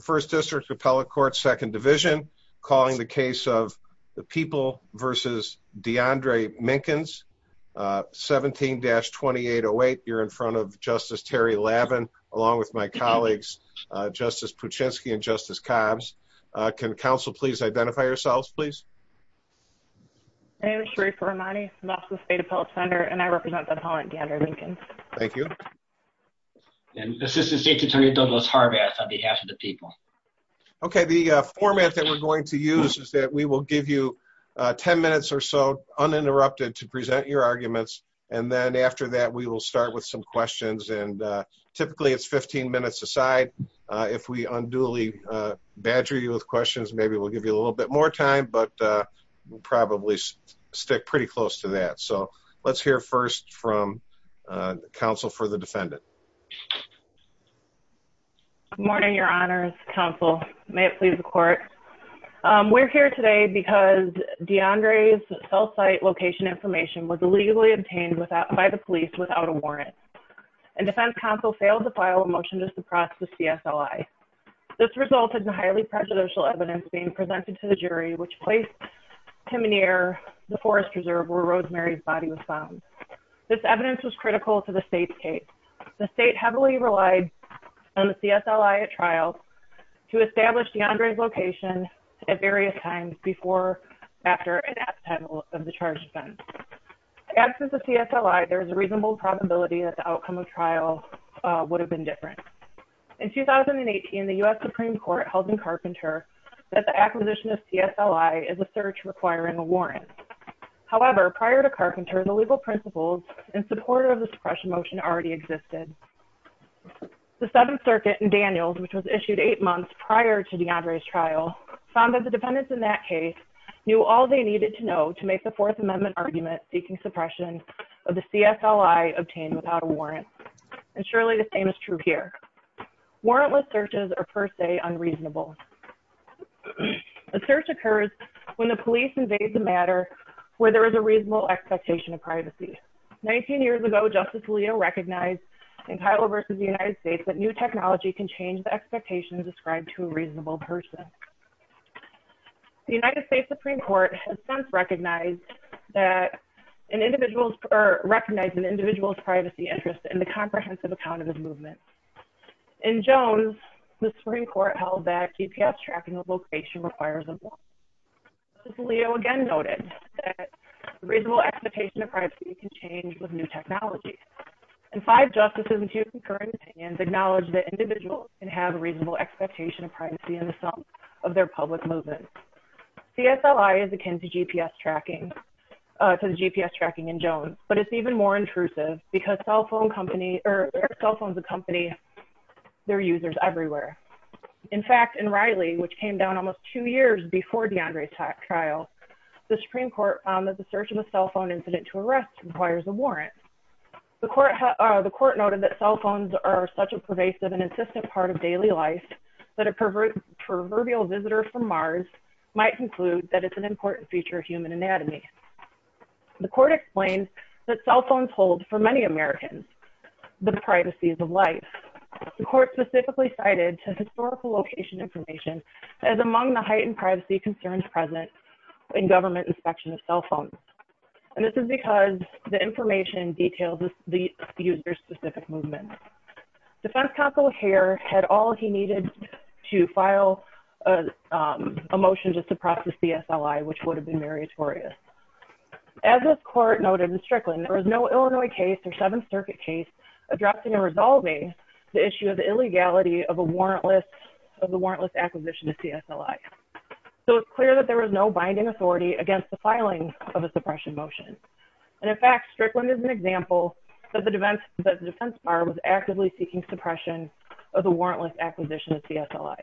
First District Appellate Court, Second Division, calling the case of the People versus DeAndre Minkins, 17-2808. You're in front of Justice Terry Lavin, along with my colleagues, Justice Puczynski and Justice Cobbs. Can counsel please identify yourselves, please? My name is Sharifah Rahmani from the Austin State Appellate Center, and I represent the appellant, DeAndre Minkins. Thank you. And Assistant State Attorney Douglas Harbath on behalf of the People. Okay, the format that we're going to use is that we will give you 10 minutes or so uninterrupted to present your arguments. And then after that, we will start with some questions. And typically, it's 15 minutes aside. If we unduly badger you with questions, maybe we'll give you a little bit more time, but we'll probably stick pretty close to that. Let's hear first from counsel for the defendant. Good morning, your honors, counsel. May it please the court. We're here today because DeAndre's cell site location information was illegally obtained by the police without a warrant. And defense counsel failed to file a motion to suppress the CSLI. This resulted in highly prejudicial evidence being presented to the jury, which placed him near the forest reserve where Rosemary's body was found. This evidence was critical to the state's case. The state heavily relied on the CSLI at trial to establish DeAndre's location at various times before, after, and at the time of the charged offense. After the CSLI, there's a reasonable probability that the outcome of trial would have been different. In 2018, the US Supreme Court held in Carpenter that the acquisition of CSLI is a search requiring a warrant. However, prior to Carpenter, the legal principles in support of the suppression motion already existed. The Seventh Circuit in Daniels, which was issued eight months prior to DeAndre's trial, found that the defendants in that case knew all they needed to know to make the Fourth Amendment argument seeking suppression of the CSLI obtained without a warrant. And surely the same is true here. Warrantless searches are, per se, unreasonable. A search occurs when the police invade the matter where there is a reasonable expectation of privacy. 19 years ago, Justice Leo recognized in Kyle v. The United States that new technology can change the expectations ascribed to a reasonable person. The United States Supreme Court has since recognized that an individual's, or recognized an individual's privacy interest in the comprehensive account of movement. In Jones, the Supreme Court held that GPS tracking of location requires a warrant. Justice Leo again noted that a reasonable expectation of privacy can change with new technology. And five justices and two concurring opinions acknowledged that individuals can have a reasonable expectation of privacy in the sum of their public movements. CSLI is akin to GPS tracking in Jones, but it's even more intrusive because cell phones accompany their users everywhere. In fact, in Riley, which came down almost two years before DeAndre's trial, the Supreme Court found that the search of a cell phone incident to arrest requires a warrant. The court noted that cell phones are such a pervasive and insistent part of daily life that a proverbial visitor from Mars might conclude that it's an important feature of human anatomy. The court explained that cell phones hold, for many Americans, the privacies of life. The court specifically cited historical location information as among the heightened privacy concerns present in government inspection of cell phones. And this is because the information details the user's specific movements. Defense counsel Heer had all he needed to file a motion to suppress the CSLI, which would have been meritorious. As this court noted in Strickland, there was no Illinois case or Seventh Circuit case addressing or resolving the issue of the illegality of the warrantless acquisition of CSLI. So it's clear that there was no binding authority against the filing of a suppression motion. And in fact, Strickland is an example that the defense bar was actively seeking suppression of the warrantless acquisition of CSLI.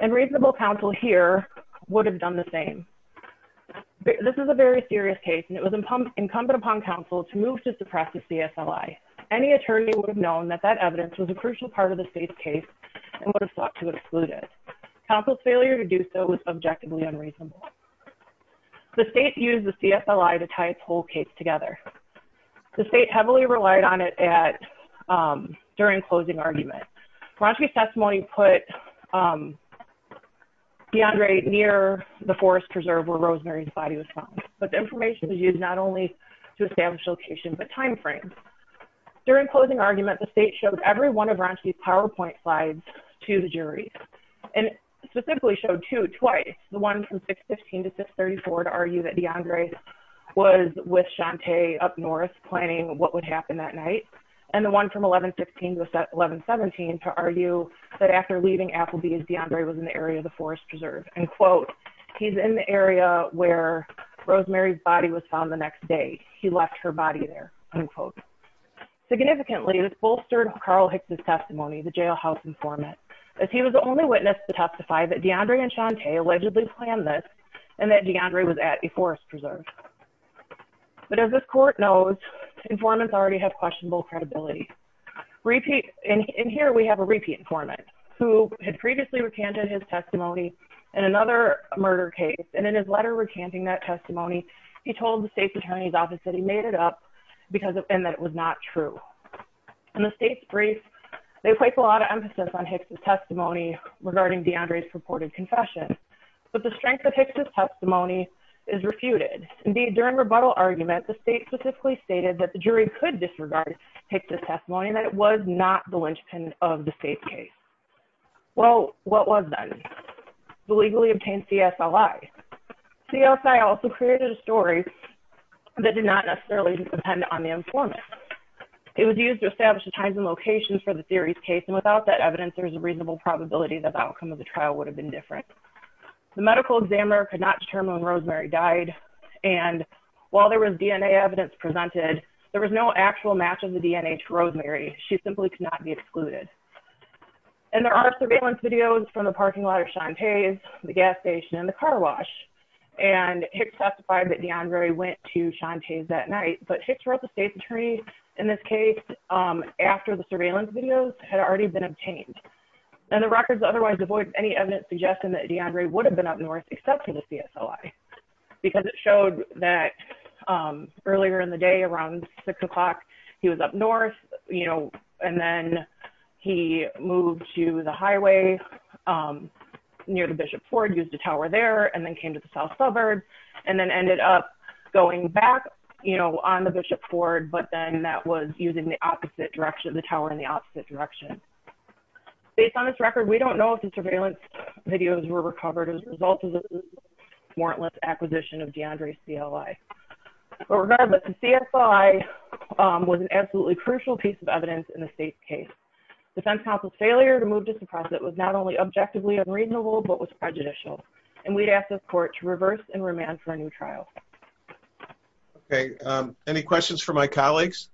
And reasonable counsel Heer would have done the same. This is a very serious case and it was incumbent upon counsel to move to suppress the CSLI. Any attorney would have known that that evidence was a crucial part of the state's case and would have sought to exclude it. Counsel's failure to do so was objectively unreasonable. The state used the CSLI to tie its whole case together. The state heavily relied on it during closing argument. Bronski's testimony put DeAndre near the forest preserve where Rosemary's body was found. But the information was used not only to establish location, but time frame. During closing argument, the state showed every one of Bronski's PowerPoint slides to the jury and specifically showed two, twice. The one from up north planning what would happen that night. And the one from 1115 to 1117 to argue that after leaving Applebee's, DeAndre was in the area of the forest preserve. And quote, he's in the area where Rosemary's body was found the next day. He left her body there, unquote. Significantly, this bolstered Carl Hicks' testimony, the jailhouse informant, as he was the only witness to testify that DeAndre and Shantae allegedly planned this and that DeAndre was at a forest preserve. But as this court knows, informants already have questionable credibility. In here, we have a repeat informant who had previously recanted his testimony in another murder case. And in his letter recanting that testimony, he told the state's attorney's office that he made it up and that it was not true. In the state's brief, they place a lot of emphasis on Hicks' testimony regarding DeAndre's purported confession. But the strength of Hicks' testimony is refuted. Indeed, during rebuttal argument, the state specifically stated that the jury could disregard Hicks' testimony and that it was not the linchpin of the state's case. Well, what was then? The legally obtained CSLI. CSI also created a story that did not necessarily depend on the informant. It was used to establish the times and locations for the series case. And without that evidence, there's a reasonable probability that the outcome of the trial would have been different. The medical examiner could not determine when Rosemary died. And while there was DNA evidence presented, there was no actual match of the DNA to Rosemary. She simply could not be excluded. And there are surveillance videos from the parking lot of Chante's, the gas station, and the car wash. And Hicks testified that DeAndre went to Chante's that night. But Hicks wrote the state's attorney in this case after the surveillance videos had already been obtained. And the records otherwise avoid any evidence suggesting that DeAndre would have been up north, except for the CSLI. Because it showed that earlier in the day, around six o'clock, he was up north, you know, and then he moved to the highway near the Bishop Ford, used a tower there, and then came to the south suburb, and then ended up going back, you know, on the Bishop Ford, but then that was using the tower in the opposite direction. Based on this record, we don't know if the surveillance videos were recovered as a result of the warrantless acquisition of DeAndre's CLI. But regardless, the CSLI was an absolutely crucial piece of evidence in the state's case. Defense counsel's failure to move to suppress it was not only objectively unreasonable, but was prejudicial. And we'd ask this court to reverse and remand for a new trial. Okay, any questions for my colleagues?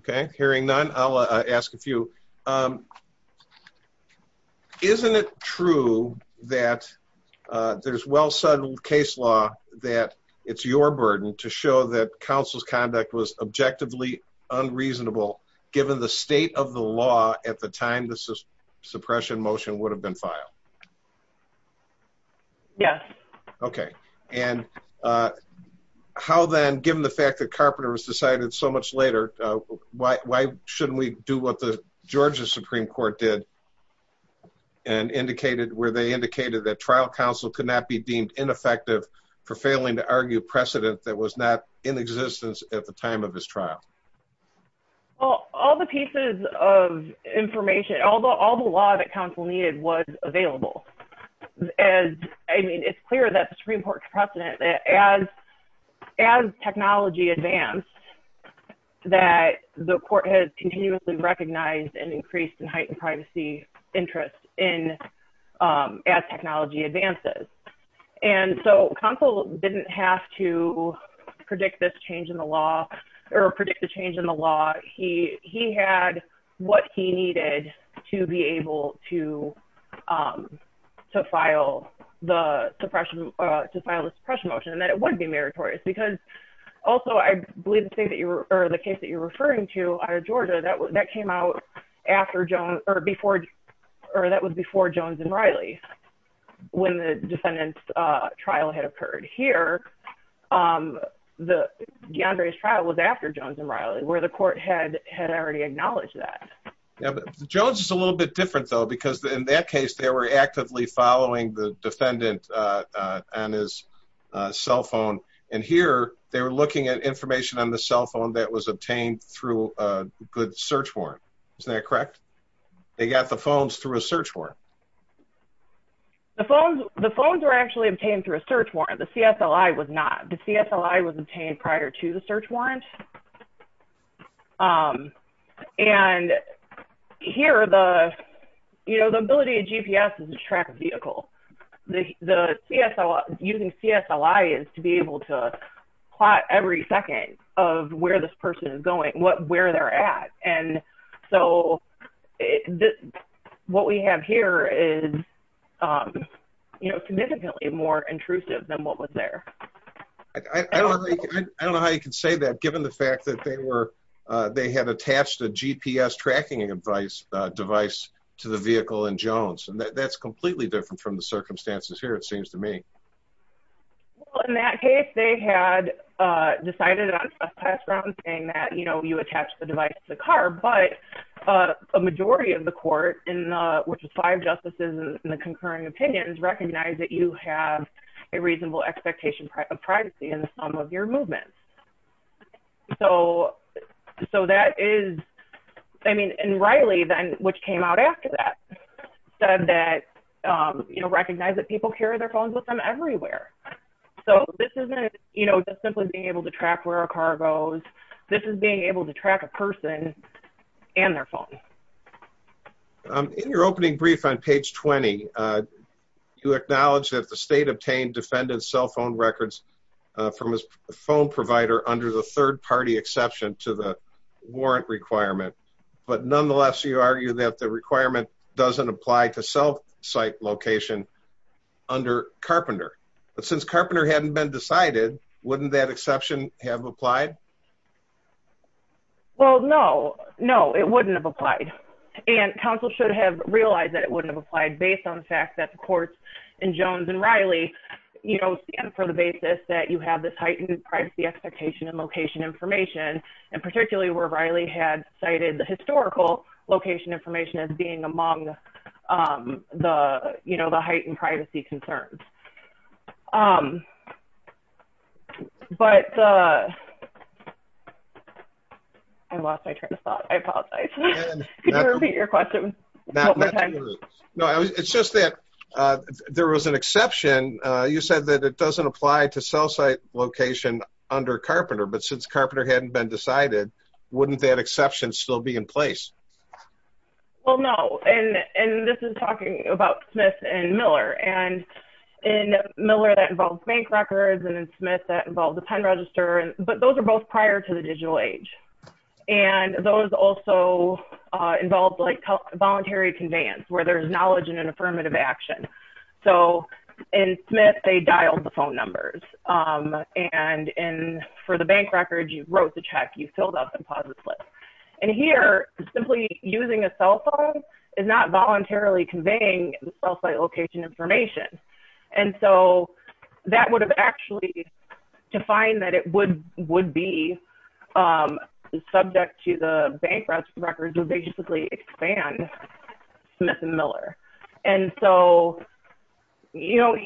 Okay, hearing none, I'll ask a few. Isn't it true that there's well-settled case law that it's your burden to show that counsel's conduct was objectively unreasonable, given the state of the law at the time the suppression motion would have been filed? Yes. Okay, and how then, given the fact that Carpenter was decided so much later, why shouldn't we do what the Georgia Supreme Court did and indicated where they indicated that trial counsel could not be deemed ineffective for failing to argue precedent that was not in existence at the time of his trial? Well, all the pieces of information, all the law that counsel needed was available. I mean, it's clear that the Supreme Court's precedent that as technology advanced, that the court has continuously recognized and increased and heightened privacy interest as technology advances. And so counsel didn't have to to be able to file the suppression, to file a suppression motion, and that it would be meritorious. Because also, I believe the case that you're referring to out of Georgia, that came out after Jones, or before, or that was before Jones and Riley, when the defendant's trial had occurred. Here, DeAndre's trial was after Jones and Riley, where the court had already acknowledged that. Yeah, but Jones is a little bit different though, because in that case, they were actively following the defendant on his cell phone. And here, they were looking at information on the cell phone that was obtained through a good search warrant. Isn't that correct? They got the phones through a search warrant. The phones, the phones were actually obtained through a search warrant. The CSLI was not. The CSLI was obtained prior to the search warrant. And here, the, you know, the ability of GPS is a tracked vehicle. The CSLI, using CSLI, is to be able to plot every second of where this person is going, where they're at. And so what we have here is, you know, significantly more intrusive than what was there. I don't know how you could say that, given the fact that they were, they had attached a GPS tracking device to the vehicle in Jones. And that's completely different from the circumstances here, it seems to me. Well, in that case, they had decided on trespass grounds, saying that, you know, you attach the device to the car, but a majority of the court, which was five justices in the concurring opinions, recognized that you have a reasonable expectation of privacy in the sum of your movements. So that is, I mean, and Riley then, which came out after that, said that, you know, recognize that people carry their phones with them everywhere. So this isn't, you know, just simply being able to track where a car goes. This is being able to track a person and their phone. In your opening brief on page 20, you acknowledge that the state obtained defendant's cell phone records from his phone provider under the third party exception to the warrant requirement. But nonetheless, you argue that the requirement doesn't apply to sell site location under Carpenter. But since Carpenter hadn't been decided, wouldn't that exception have applied? Well, no, no, it wouldn't have applied. And counsel should have realized that it wouldn't have applied based on the fact that the courts in Jones and Riley, you know, stand for the basis that you have this heightened privacy expectation and location information, and particularly where Riley had cited the historical location information as being among the, you know, the heightened privacy concerns. But I lost my train of thought. I apologize. Could you repeat your question? No, it's just that there was an exception. You said that it doesn't apply to sell site location under Carpenter. But since Carpenter hadn't been decided, wouldn't that exception still be in place? Well, no. And this is talking about Smith and Miller. And in Miller, that involves bank records. And in Smith, that involves a pen register. But those are both prior to the digital age. And those also involve, like, voluntary conveyance, where there's knowledge and an affirmative action. So in Smith, they dialed the phone numbers. And for the bank records, you wrote the check, you filled out the deposit slip. And here, simply using a cell phone is not voluntarily conveying the sell site location information. And so that would have actually to find that it would be subject to the bank records would basically expand Smith and Miller. And so, you know,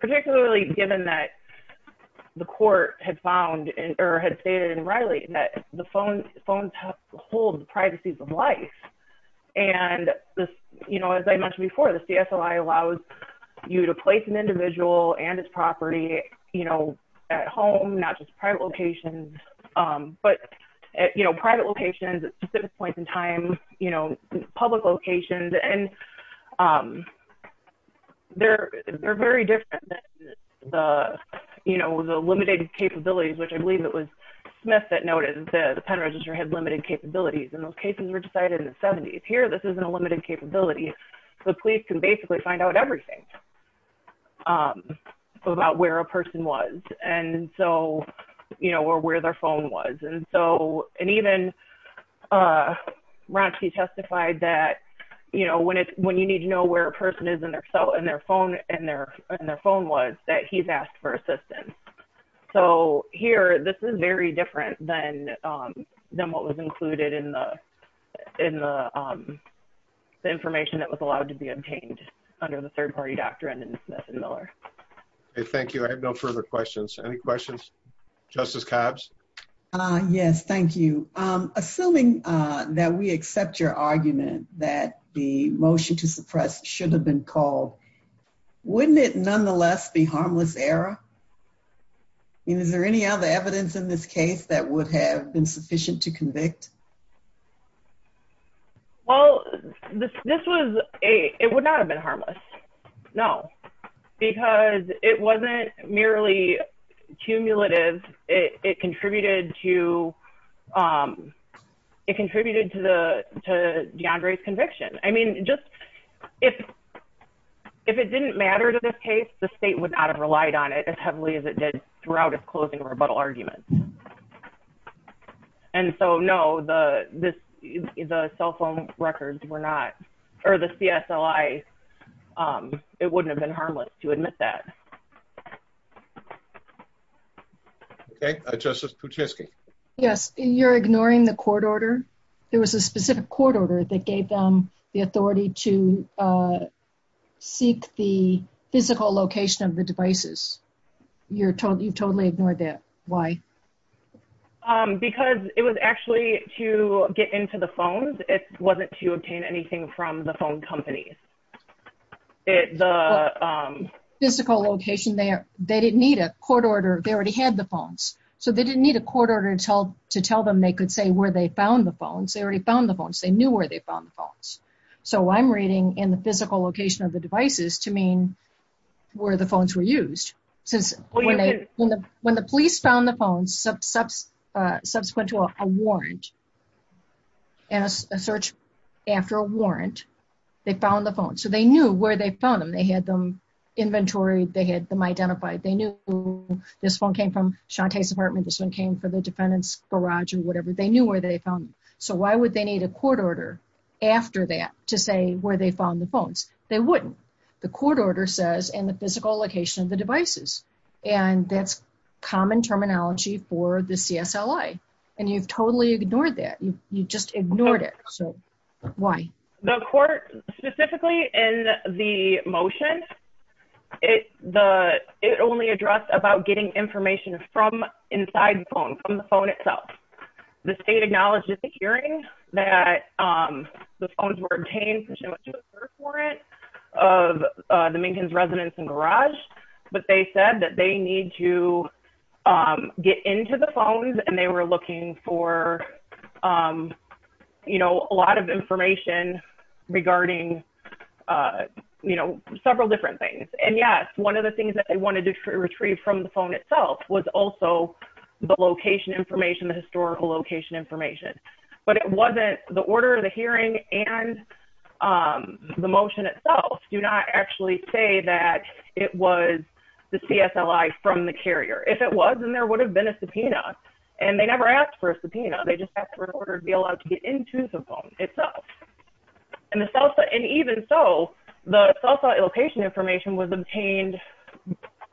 particularly given that the court had found or had stated in Riley that the phones hold the privacies of life. And, you know, as I mentioned before, the CSLI allows you to place an individual and his property, you know, at home, not just private locations. But, you know, private locations at specific points in time, you know, public locations and they're, they're very different than the, you know, the limited capabilities, which I believe it was Smith that noted that the pen register had limited capabilities. And those cases were decided in the 70s. Here, this isn't a limited capability. The police can basically find out everything about where a person was. And so, you know, or where their phone was. And so, and even Ransky testified that, you know, when it's when you need to know where a person is in their cell and their phone and their phone was that he's asked for assistance. So here, this is very different than what was included in the information that was allowed to be obtained under the third party doctrine and Miller. Thank you. I have no further questions. Any questions? Justice Cobbs? Yes, thank you. Assuming that we accept your argument that the motion to suppress should have been called, wouldn't it nonetheless be harmless error? Is there any other evidence in this case that would have been sufficient to convict? Well, this was a, it would not have been harmless. No, because it wasn't merely cumulative. It contributed to it contributed to the, to DeAndre's conviction. I mean, just if, if it didn't matter to this case, the state would not have relied on it as heavily as it did throughout its closing rebuttal argument. And so, no, the, the, the cell phone records were not, or the CSLI, it wouldn't have been harmless to admit that. Okay. Justice Kuczynski? Yes. You're ignoring the court order. There was a specific court order that gave them the authority to You're totally, you've totally ignored that. Why? Because it was actually to get into the phones. It wasn't to obtain anything from the phone companies. It, the... Physical location there, they didn't need a court order. They already had the phones. So they didn't need a court order to tell, to tell them they could say where they found the phones. They already found the phones. They knew where they found the phones. So I'm in the physical location of the devices to mean where the phones were used. Since when they, when the police found the phones, subsequent to a warrant and a search after a warrant, they found the phone. So they knew where they found them. They had them inventory. They had them identified. They knew this phone came from Shantay's apartment. This one came from the defendant's garage or whatever. They knew where they found them. So why would they need a court order after that to say where they found the phones? They wouldn't. The court order says in the physical location of the devices. And that's common terminology for the CSLA. And you've totally ignored that. You just ignored it. So why? The court, specifically in the motion, it, the, it only addressed about getting information from inside the phone, from the phone itself. The state acknowledged at the hearing that the phones were obtained from a search warrant of the Minkins residence and garage, but they said that they need to get into the phones and they were looking for, you know, a lot of information regarding, you know, several different things. And yes, one of the things that they wanted to retrieve from the phone itself was also the location information, the historical location information, but it wasn't the order of the hearing and the motion itself. Do not actually say that it was the CSLA from the carrier. If it was, then there would have been a subpoena and they never asked for a subpoena. They just asked for an order to be allowed to get into the phone itself. And even so, the cell phone location information was obtained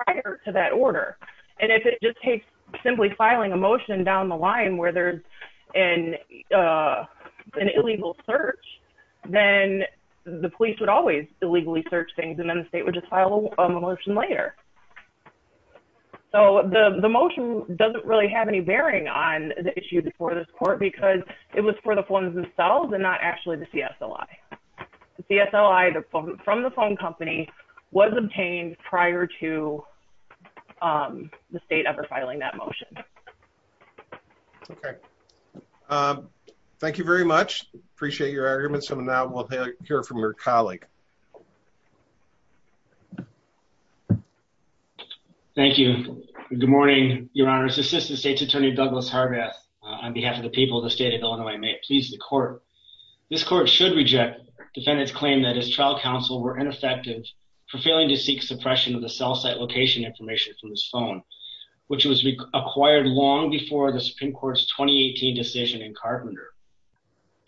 prior to that order. And if it just takes simply filing a motion down the line where there's an, an illegal search, then the police would always illegally search things. And then the state would just file a motion later. So the, the motion doesn't really have any bearing on the issue before this court, because it was for the phones themselves and not actually the CSLI. The CSLI from the phone company was obtained prior to the state ever filing that motion. Okay. Thank you very much. Appreciate your arguments. And now we'll hear from your colleague. Thank you. Good morning, your honor's assistant state's attorney, Douglas Harbath on behalf of the people of the state of Illinois, may it please the court. This court should reject defendant's claim that his trial counsel were ineffective for failing to seek suppression of the cell site location information from his phone, which was acquired long before the Supreme court's 2018 decision in Carpenter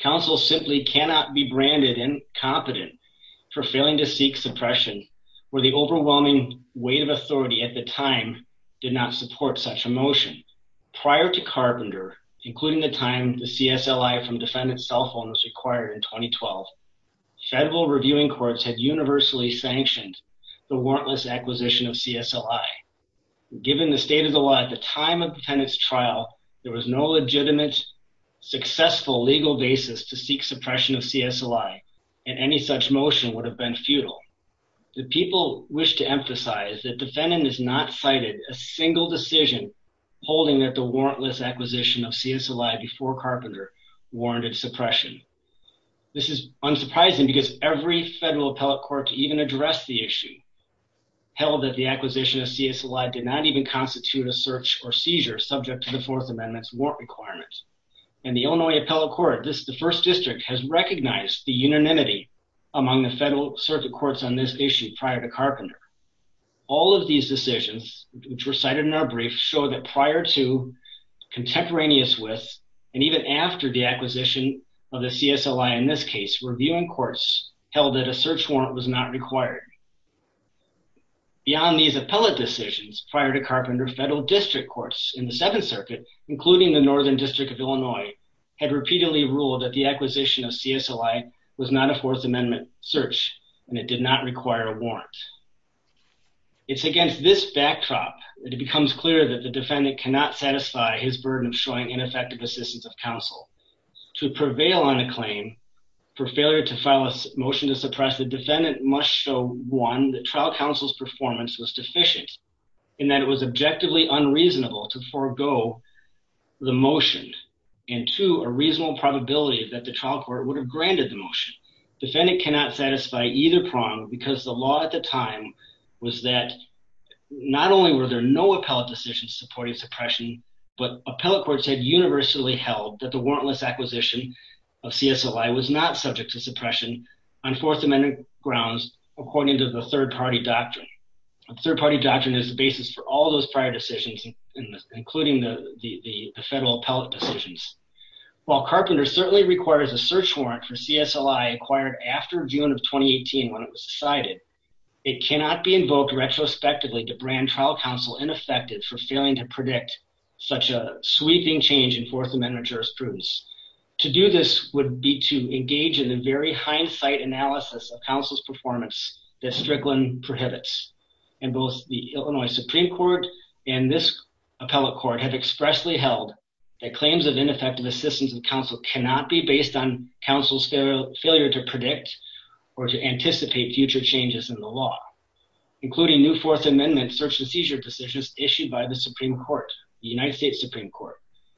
counsel simply cannot be branded incompetent for failing to seek suppression where the motion prior to Carpenter, including the time, the CSLI from defendant's cell phone was acquired in 2012 federal reviewing courts had universally sanctioned the warrantless acquisition of CSLI. Given the state of the law at the time of the penance trial, there was no legitimate successful legal basis to seek suppression of CSLI. And any such motion would have been futile. The people wish to emphasize that defendant is not cited a single decision holding that the warrantless acquisition of CSLI before Carpenter warranted suppression. This is unsurprising because every federal appellate court to even address the issue held that the acquisition of CSLI did not even constitute a search or seizure subject to the fourth amendment's warrant requirements. And the Illinois appellate court, this, the first district has recognized the issue prior to Carpenter. All of these decisions which were cited in our brief show that prior to contemporaneous with, and even after the acquisition of the CSLI in this case, reviewing courts held that a search warrant was not required. Beyond these appellate decisions prior to Carpenter federal district courts in the seventh circuit, including the Northern district of Illinois had repeatedly ruled that the acquisition of CSLI was not a fourth amendment search and it did not require a warrant. It's against this backdrop that it becomes clear that the defendant cannot satisfy his burden of showing ineffective assistance of counsel to prevail on a claim for failure to file a motion to suppress the defendant must show one, the trial counsel's performance was deficient in that it was objectively unreasonable to forego the motion and to a reasonable probability that the trial court would have granted the motion. Defendant cannot satisfy either prong because the law at the time was that not only were there no appellate decisions supporting suppression, but appellate courts had universally held that the warrantless acquisition of CSLI was not subject to suppression on fourth amendment grounds, according to the third party doctrine. Third party doctrine is basis for all those prior decisions, including the federal appellate decisions. While Carpenter certainly requires a search warrant for CSLI acquired after June of 2018 when it was decided, it cannot be invoked retrospectively to brand trial counsel ineffective for failing to predict such a sweeping change in fourth amendment jurisprudence. To do this would be to engage in the very hindsight analysis of counsel's performance that Strickland prohibits and both the Illinois Supreme Court and this appellate court have expressly held that claims of ineffective assistance of counsel cannot be based on counsel's failure to predict or to anticipate future changes in the law, including new fourth amendment search and seizure decisions issued by the Supreme Court, the United States Supreme Court,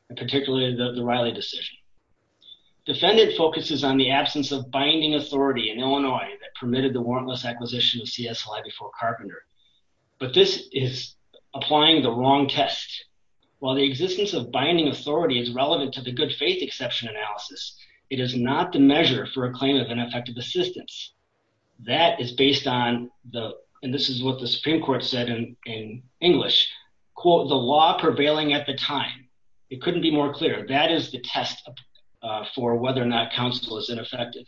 and particularly the Riley decision. Defendant focuses on the absence of binding authority in Illinois that permitted the this is applying the wrong test. While the existence of binding authority is relevant to the good faith exception analysis, it is not the measure for a claim of ineffective assistance. That is based on the, and this is what the Supreme Court said in English, quote, the law prevailing at the time, it couldn't be more clear. That is the test for whether or not counsel is ineffective.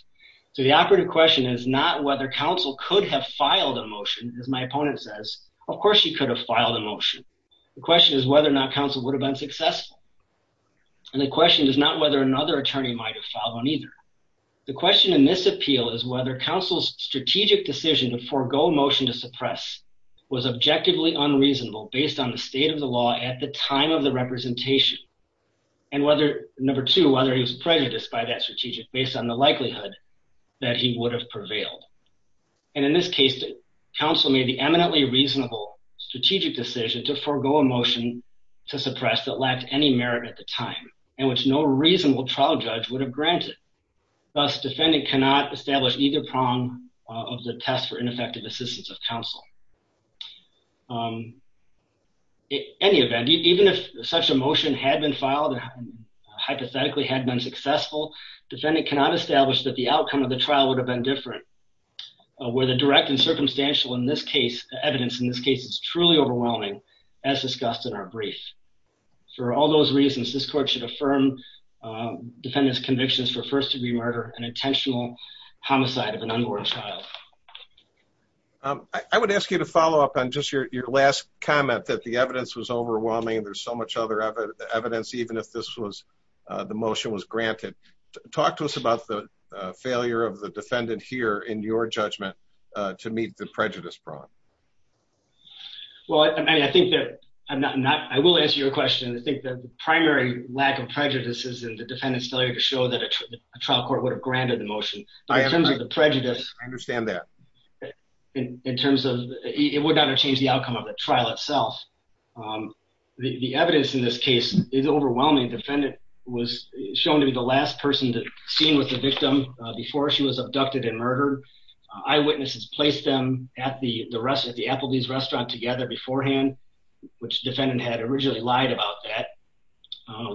So the operative question is not whether counsel could have filed a motion, as my opponent says, of course she could have filed a motion. The question is whether or not counsel would have been successful. And the question is not whether another attorney might have followed on either. The question in this appeal is whether counsel's strategic decision to forego motion to suppress was objectively unreasonable based on the state of the law at the time of the representation and whether number two, whether he was prejudiced by that strategic, based on the likelihood that he would have prevailed. And in this case, counsel made the eminently reasonable strategic decision to forego a motion to suppress that lacked any merit at the time and which no reasonable trial judge would have granted. Thus defendant cannot establish either prong of the test for ineffective assistance of counsel. In any event, even if such a motion had been filed and hypothetically had been successful, defendant cannot establish that the outcome of the trial would have been different where the direct and circumstantial in this case, the evidence in this case is truly overwhelming as discussed in our brief. For all those reasons, this court should affirm defendant's convictions for first-degree murder, an intentional homicide of an unborn child. I would ask you to follow up on just your last comment that the evidence was overwhelming. There's so much other evidence, even if this was the motion was granted. Talk to us about the failure of the defendant here in your judgment to meet the prejudice prong. Well, I think that I'm not, I will answer your question. I think the primary lack of prejudices and the defendant's failure to show that a trial court would have granted the motion in terms of the prejudice. I understand that. In terms of it would not have the outcome of the trial itself. The evidence in this case is overwhelming. Defendant was shown to be the last person that seen with the victim before she was abducted and murdered. Eyewitnesses placed them at the rest of the Applebee's restaurant together beforehand, which defendant had originally lied about that.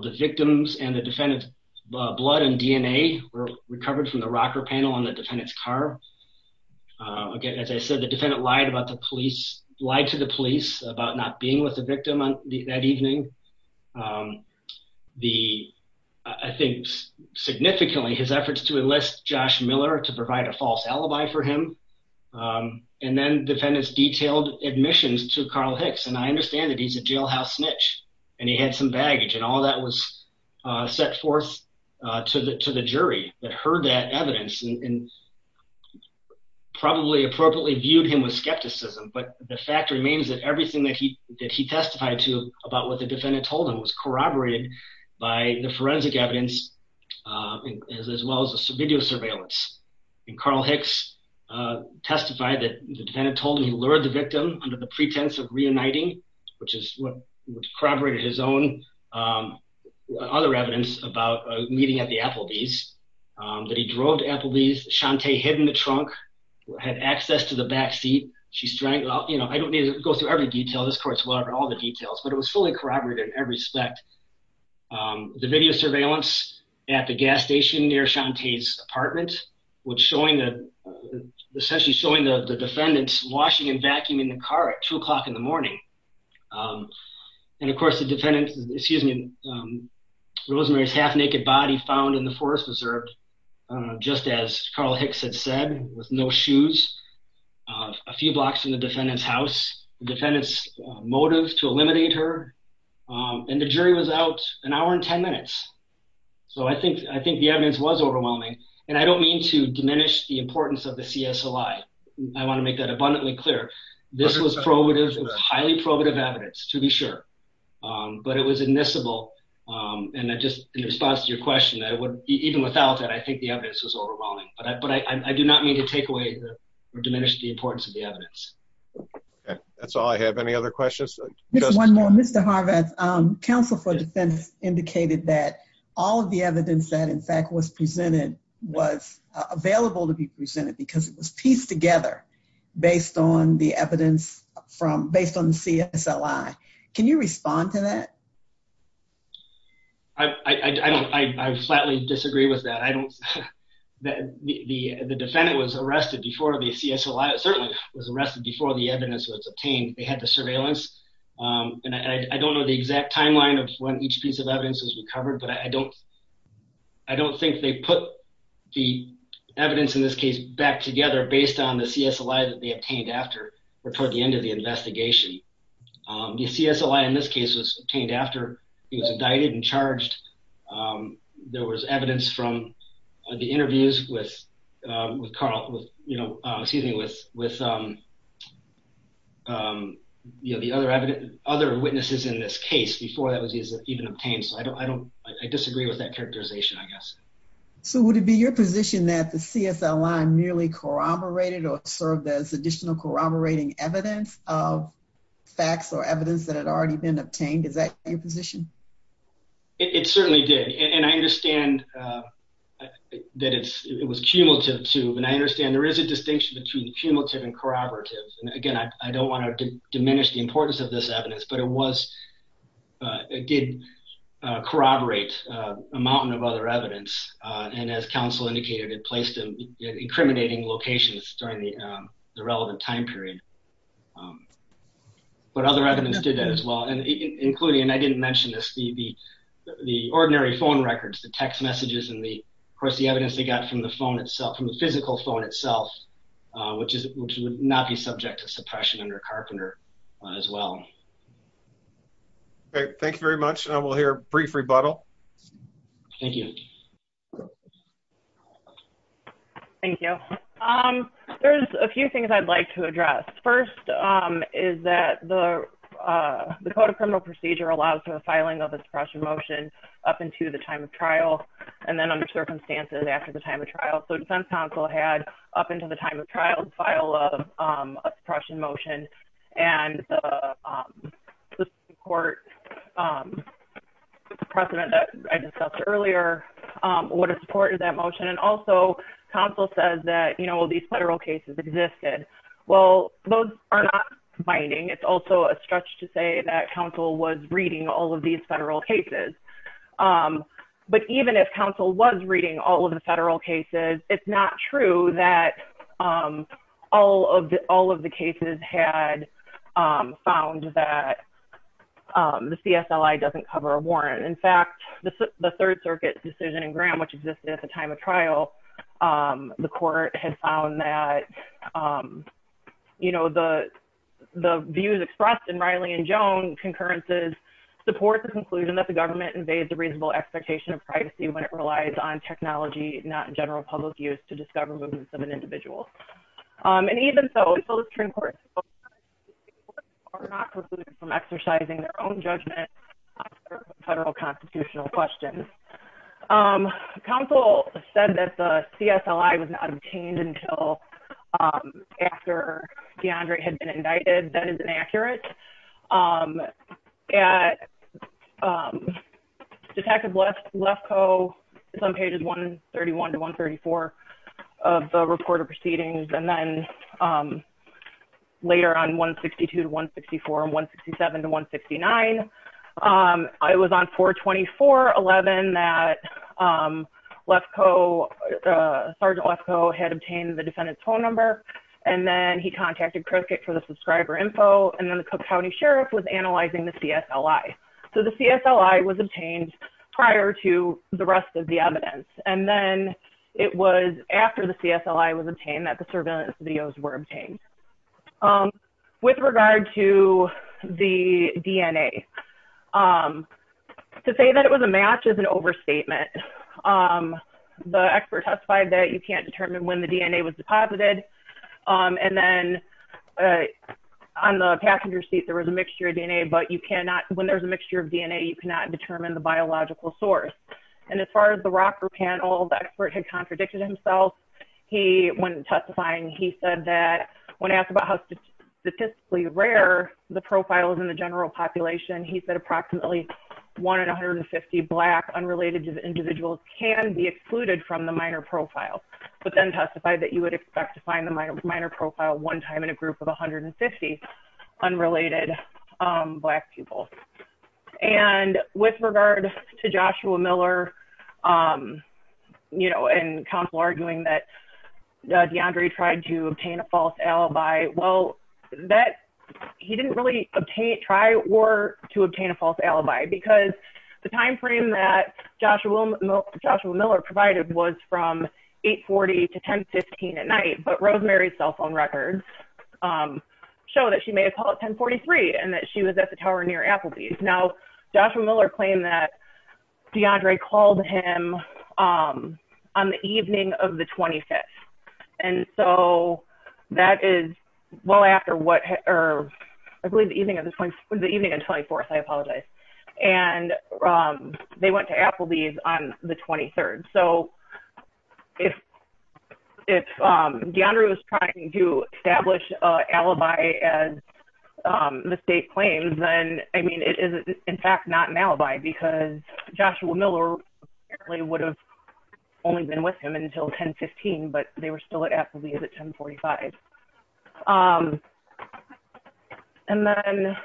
The victims and the defendant's blood and DNA were recovered from the rocker panel on the defendant's car. Again, as I said, the defendant lied about the police, lied to the police about not being with the victim on that evening. The, I think significantly his efforts to enlist Josh Miller to provide a false alibi for him. And then defendants detailed admissions to Carl Hicks. And I understand that he's a jailhouse snitch and he had some baggage and all that was set forth to the, to the jury that heard that him with skepticism. But the fact remains that everything that he, that he testified to about what the defendant told him was corroborated by the forensic evidence as well as the video surveillance. And Carl Hicks testified that the defendant told him he lured the victim under the pretense of reuniting, which is what corroborated his own other evidence about meeting at the backseat. She's trying, you know, I don't need to go through every detail. This court's well over all the details, but it was fully corroborated in every spec. The video surveillance at the gas station near Shantae's apartment, which showing the, essentially showing the defendant's washing and vacuuming the car at two o'clock in the morning. And of course the defendant, excuse me, Rosemary's half naked body found in the forest preserve, just as Carl Hicks had said with no shoes, a few blocks from the defendant's house, the defendant's motive to eliminate her. And the jury was out an hour and 10 minutes. So I think, I think the evidence was overwhelming and I don't mean to diminish the importance of the CSLI. I want to make that abundantly clear. This was probative, highly probative evidence to be sure. But it was admissible. And I just, in response to your question, I would, even without that, I think the evidence was overwhelming, but I, but I do not mean to take away or diminish the importance of the evidence. That's all I have. Any other questions? Just one more. Mr. Harvath, counsel for defense indicated that all of the evidence that in fact was presented was available to be presented because it was pieced together based on the evidence from, based on the CSLI. Can you respond to that? I don't, I flatly disagree with that. I don't, the defendant was arrested before the CSLI, certainly was arrested before the evidence was obtained. They had the surveillance. And I don't know the exact timeline of when each piece of evidence was recovered, but I don't, I don't think they put the evidence in this case back together based on the CSLI that they obtained after or toward the end of the investigation. The CSLI in this case was indicted and charged. There was evidence from the interviews with Carl, with, you know, excuse me, with, with you know, the other evidence, other witnesses in this case before that was even obtained. So I don't, I don't, I disagree with that characterization, I guess. So would it be your position that the CSLI merely corroborated or served as additional corroborating evidence of facts or evidence that had already been obtained? Is that your position? It certainly did. And I understand that it's, it was cumulative too. And I understand there is a distinction between cumulative and corroborative. And again, I don't want to diminish the importance of this evidence, but it was, it did corroborate a mountain of other evidence. And as counsel indicated, it placed in incriminating locations during the relevant time period. But other evidence did that as well, including, and I didn't mention this, the, the, the ordinary phone records, the text messages, and the, of course, the evidence they got from the phone itself, from the physical phone itself, which is, which would not be subject to suppression under Carpenter as well. Okay. Thank you very much. We'll hear a brief rebuttal. Thank you. Thank you. There's a few things I'd like to address. First is that the, the Code of Criminal Procedure allows for the filing of a suppression motion up into the time of trial, and then under circumstances after the time of trial. So defense counsel had up into the time of trial file of suppression motion and the court precedent that I discussed earlier, what a support of that motion. And also counsel says that, you know, these federal cases existed. Well, those are not binding. It's also a stretch to say that counsel was reading all of these federal cases. But even if counsel was reading all of the federal cases, it's not true that all of the, all of the cases had found that the CSLI doesn't cover a warrant. In fact, the Third Circuit decision in Graham, which existed at the time of trial, the court had found that, you know, the, the views expressed in Riley and Joan concurrences support the conclusion that the government invades the reasonable expectation of technology, not general public use to discover movements of an individual. And even so, are not precluded from exercising their own judgment on federal constitutional questions. Counsel said that the CSLI was not obtained until after DeAndre had been indicted. That is inaccurate. Detective Lefkoe is on pages 131 to 134 of the report of proceedings. And then later on 162 to 164 and 167 to 169. I was on 424.11 that Lefkoe, Sergeant Lefkoe had obtained the defendant's phone number. And then he contacted Cricket for the subscriber info. And then the Cook County Sheriff was analyzing the CSLI. So the CSLI was obtained prior to the rest of the evidence. And then it was after the CSLI was obtained that the surveillance videos were obtained. With regard to the DNA, to say that it was a match is an overstatement. The passenger seat, there was a mixture of DNA, but you cannot, when there's a mixture of DNA, you cannot determine the biological source. And as far as the ROC group panel, the expert had contradicted himself. He, when testifying, he said that when asked about how statistically rare the profile is in the general population, he said approximately one in 150 black unrelated to the individuals can be excluded from the minor profile, but then testified that you would expect to find the minor profile one time in a group of 150 unrelated black people. And with regard to Joshua Miller, you know, and counsel arguing that DeAndre tried to obtain a false alibi. Well, that he didn't really try or to obtain a false alibi because the timeframe that Joshua Miller provided was from 840 to 1015 at night, but Rosemary's cell phone records show that she may have called at 1043 and that she was at the tower near Applebee's. Now, Joshua Miller claimed that DeAndre called him on the evening of the 25th. And so that is well after what, or I believe the evening of the 24th, I apologize. And they went to Applebee's on the 23rd. So if DeAndre was trying to establish an alibi as the state claims, then I mean, it is in fact, not an alibi because Joshua Miller apparently would have only been with him until 1015, but they were still at Applebee's at 1045. And then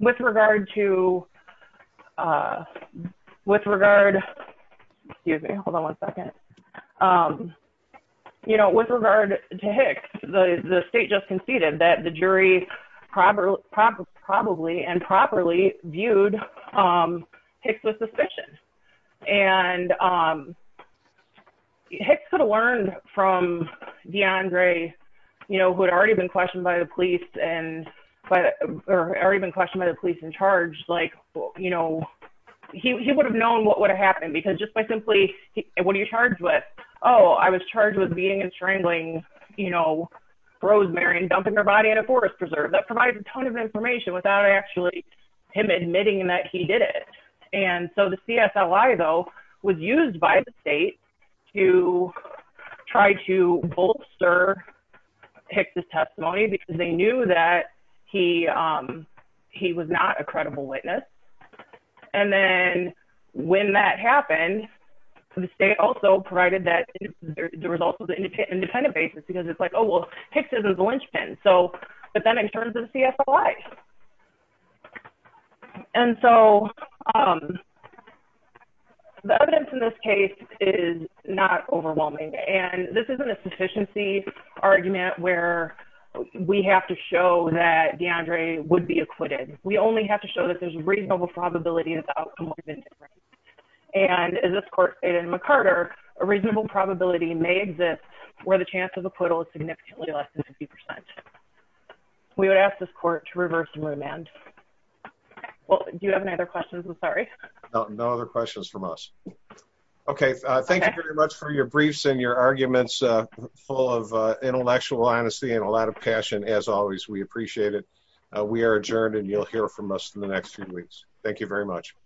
with regard to Hicks, the state just Hicks could have learned from DeAndre, you know, who had already been questioned by the police and, or already been questioned by the police and charged, like, you know, he would have known what would have happened because just by simply what are you charged with? Oh, I was charged with beating and strangling, you know, Rosemary and dumping her body in a forest preserve that provides a ton of information without actually him admitting that he did it. And so the CSLI though, was used by the state to try to bolster Hicks' testimony because they knew that he, he was not a credible witness. And then when that happened, the state also provided that the results of the independent basis, because it's like, oh, well Hicks isn't the linchpin. So then it turns to the CSLI. And so the evidence in this case is not overwhelming, and this isn't a sufficiency argument where we have to show that DeAndre would be acquitted. We only have to show that there's a reasonable probability that the outcome would have been different. And as this court stated in McCarter, a reasonable probability may exist where the chance of acquittal is significantly less than 50%. We would ask this court to reverse and remand. Well, do you have any other questions? I'm sorry. No other questions from us. Okay. Thank you very much for your briefs and your arguments, full of intellectual honesty and a lot of passion. As always, we appreciate it. We are adjourned and you'll hear from us in the next few weeks. Thank you very much.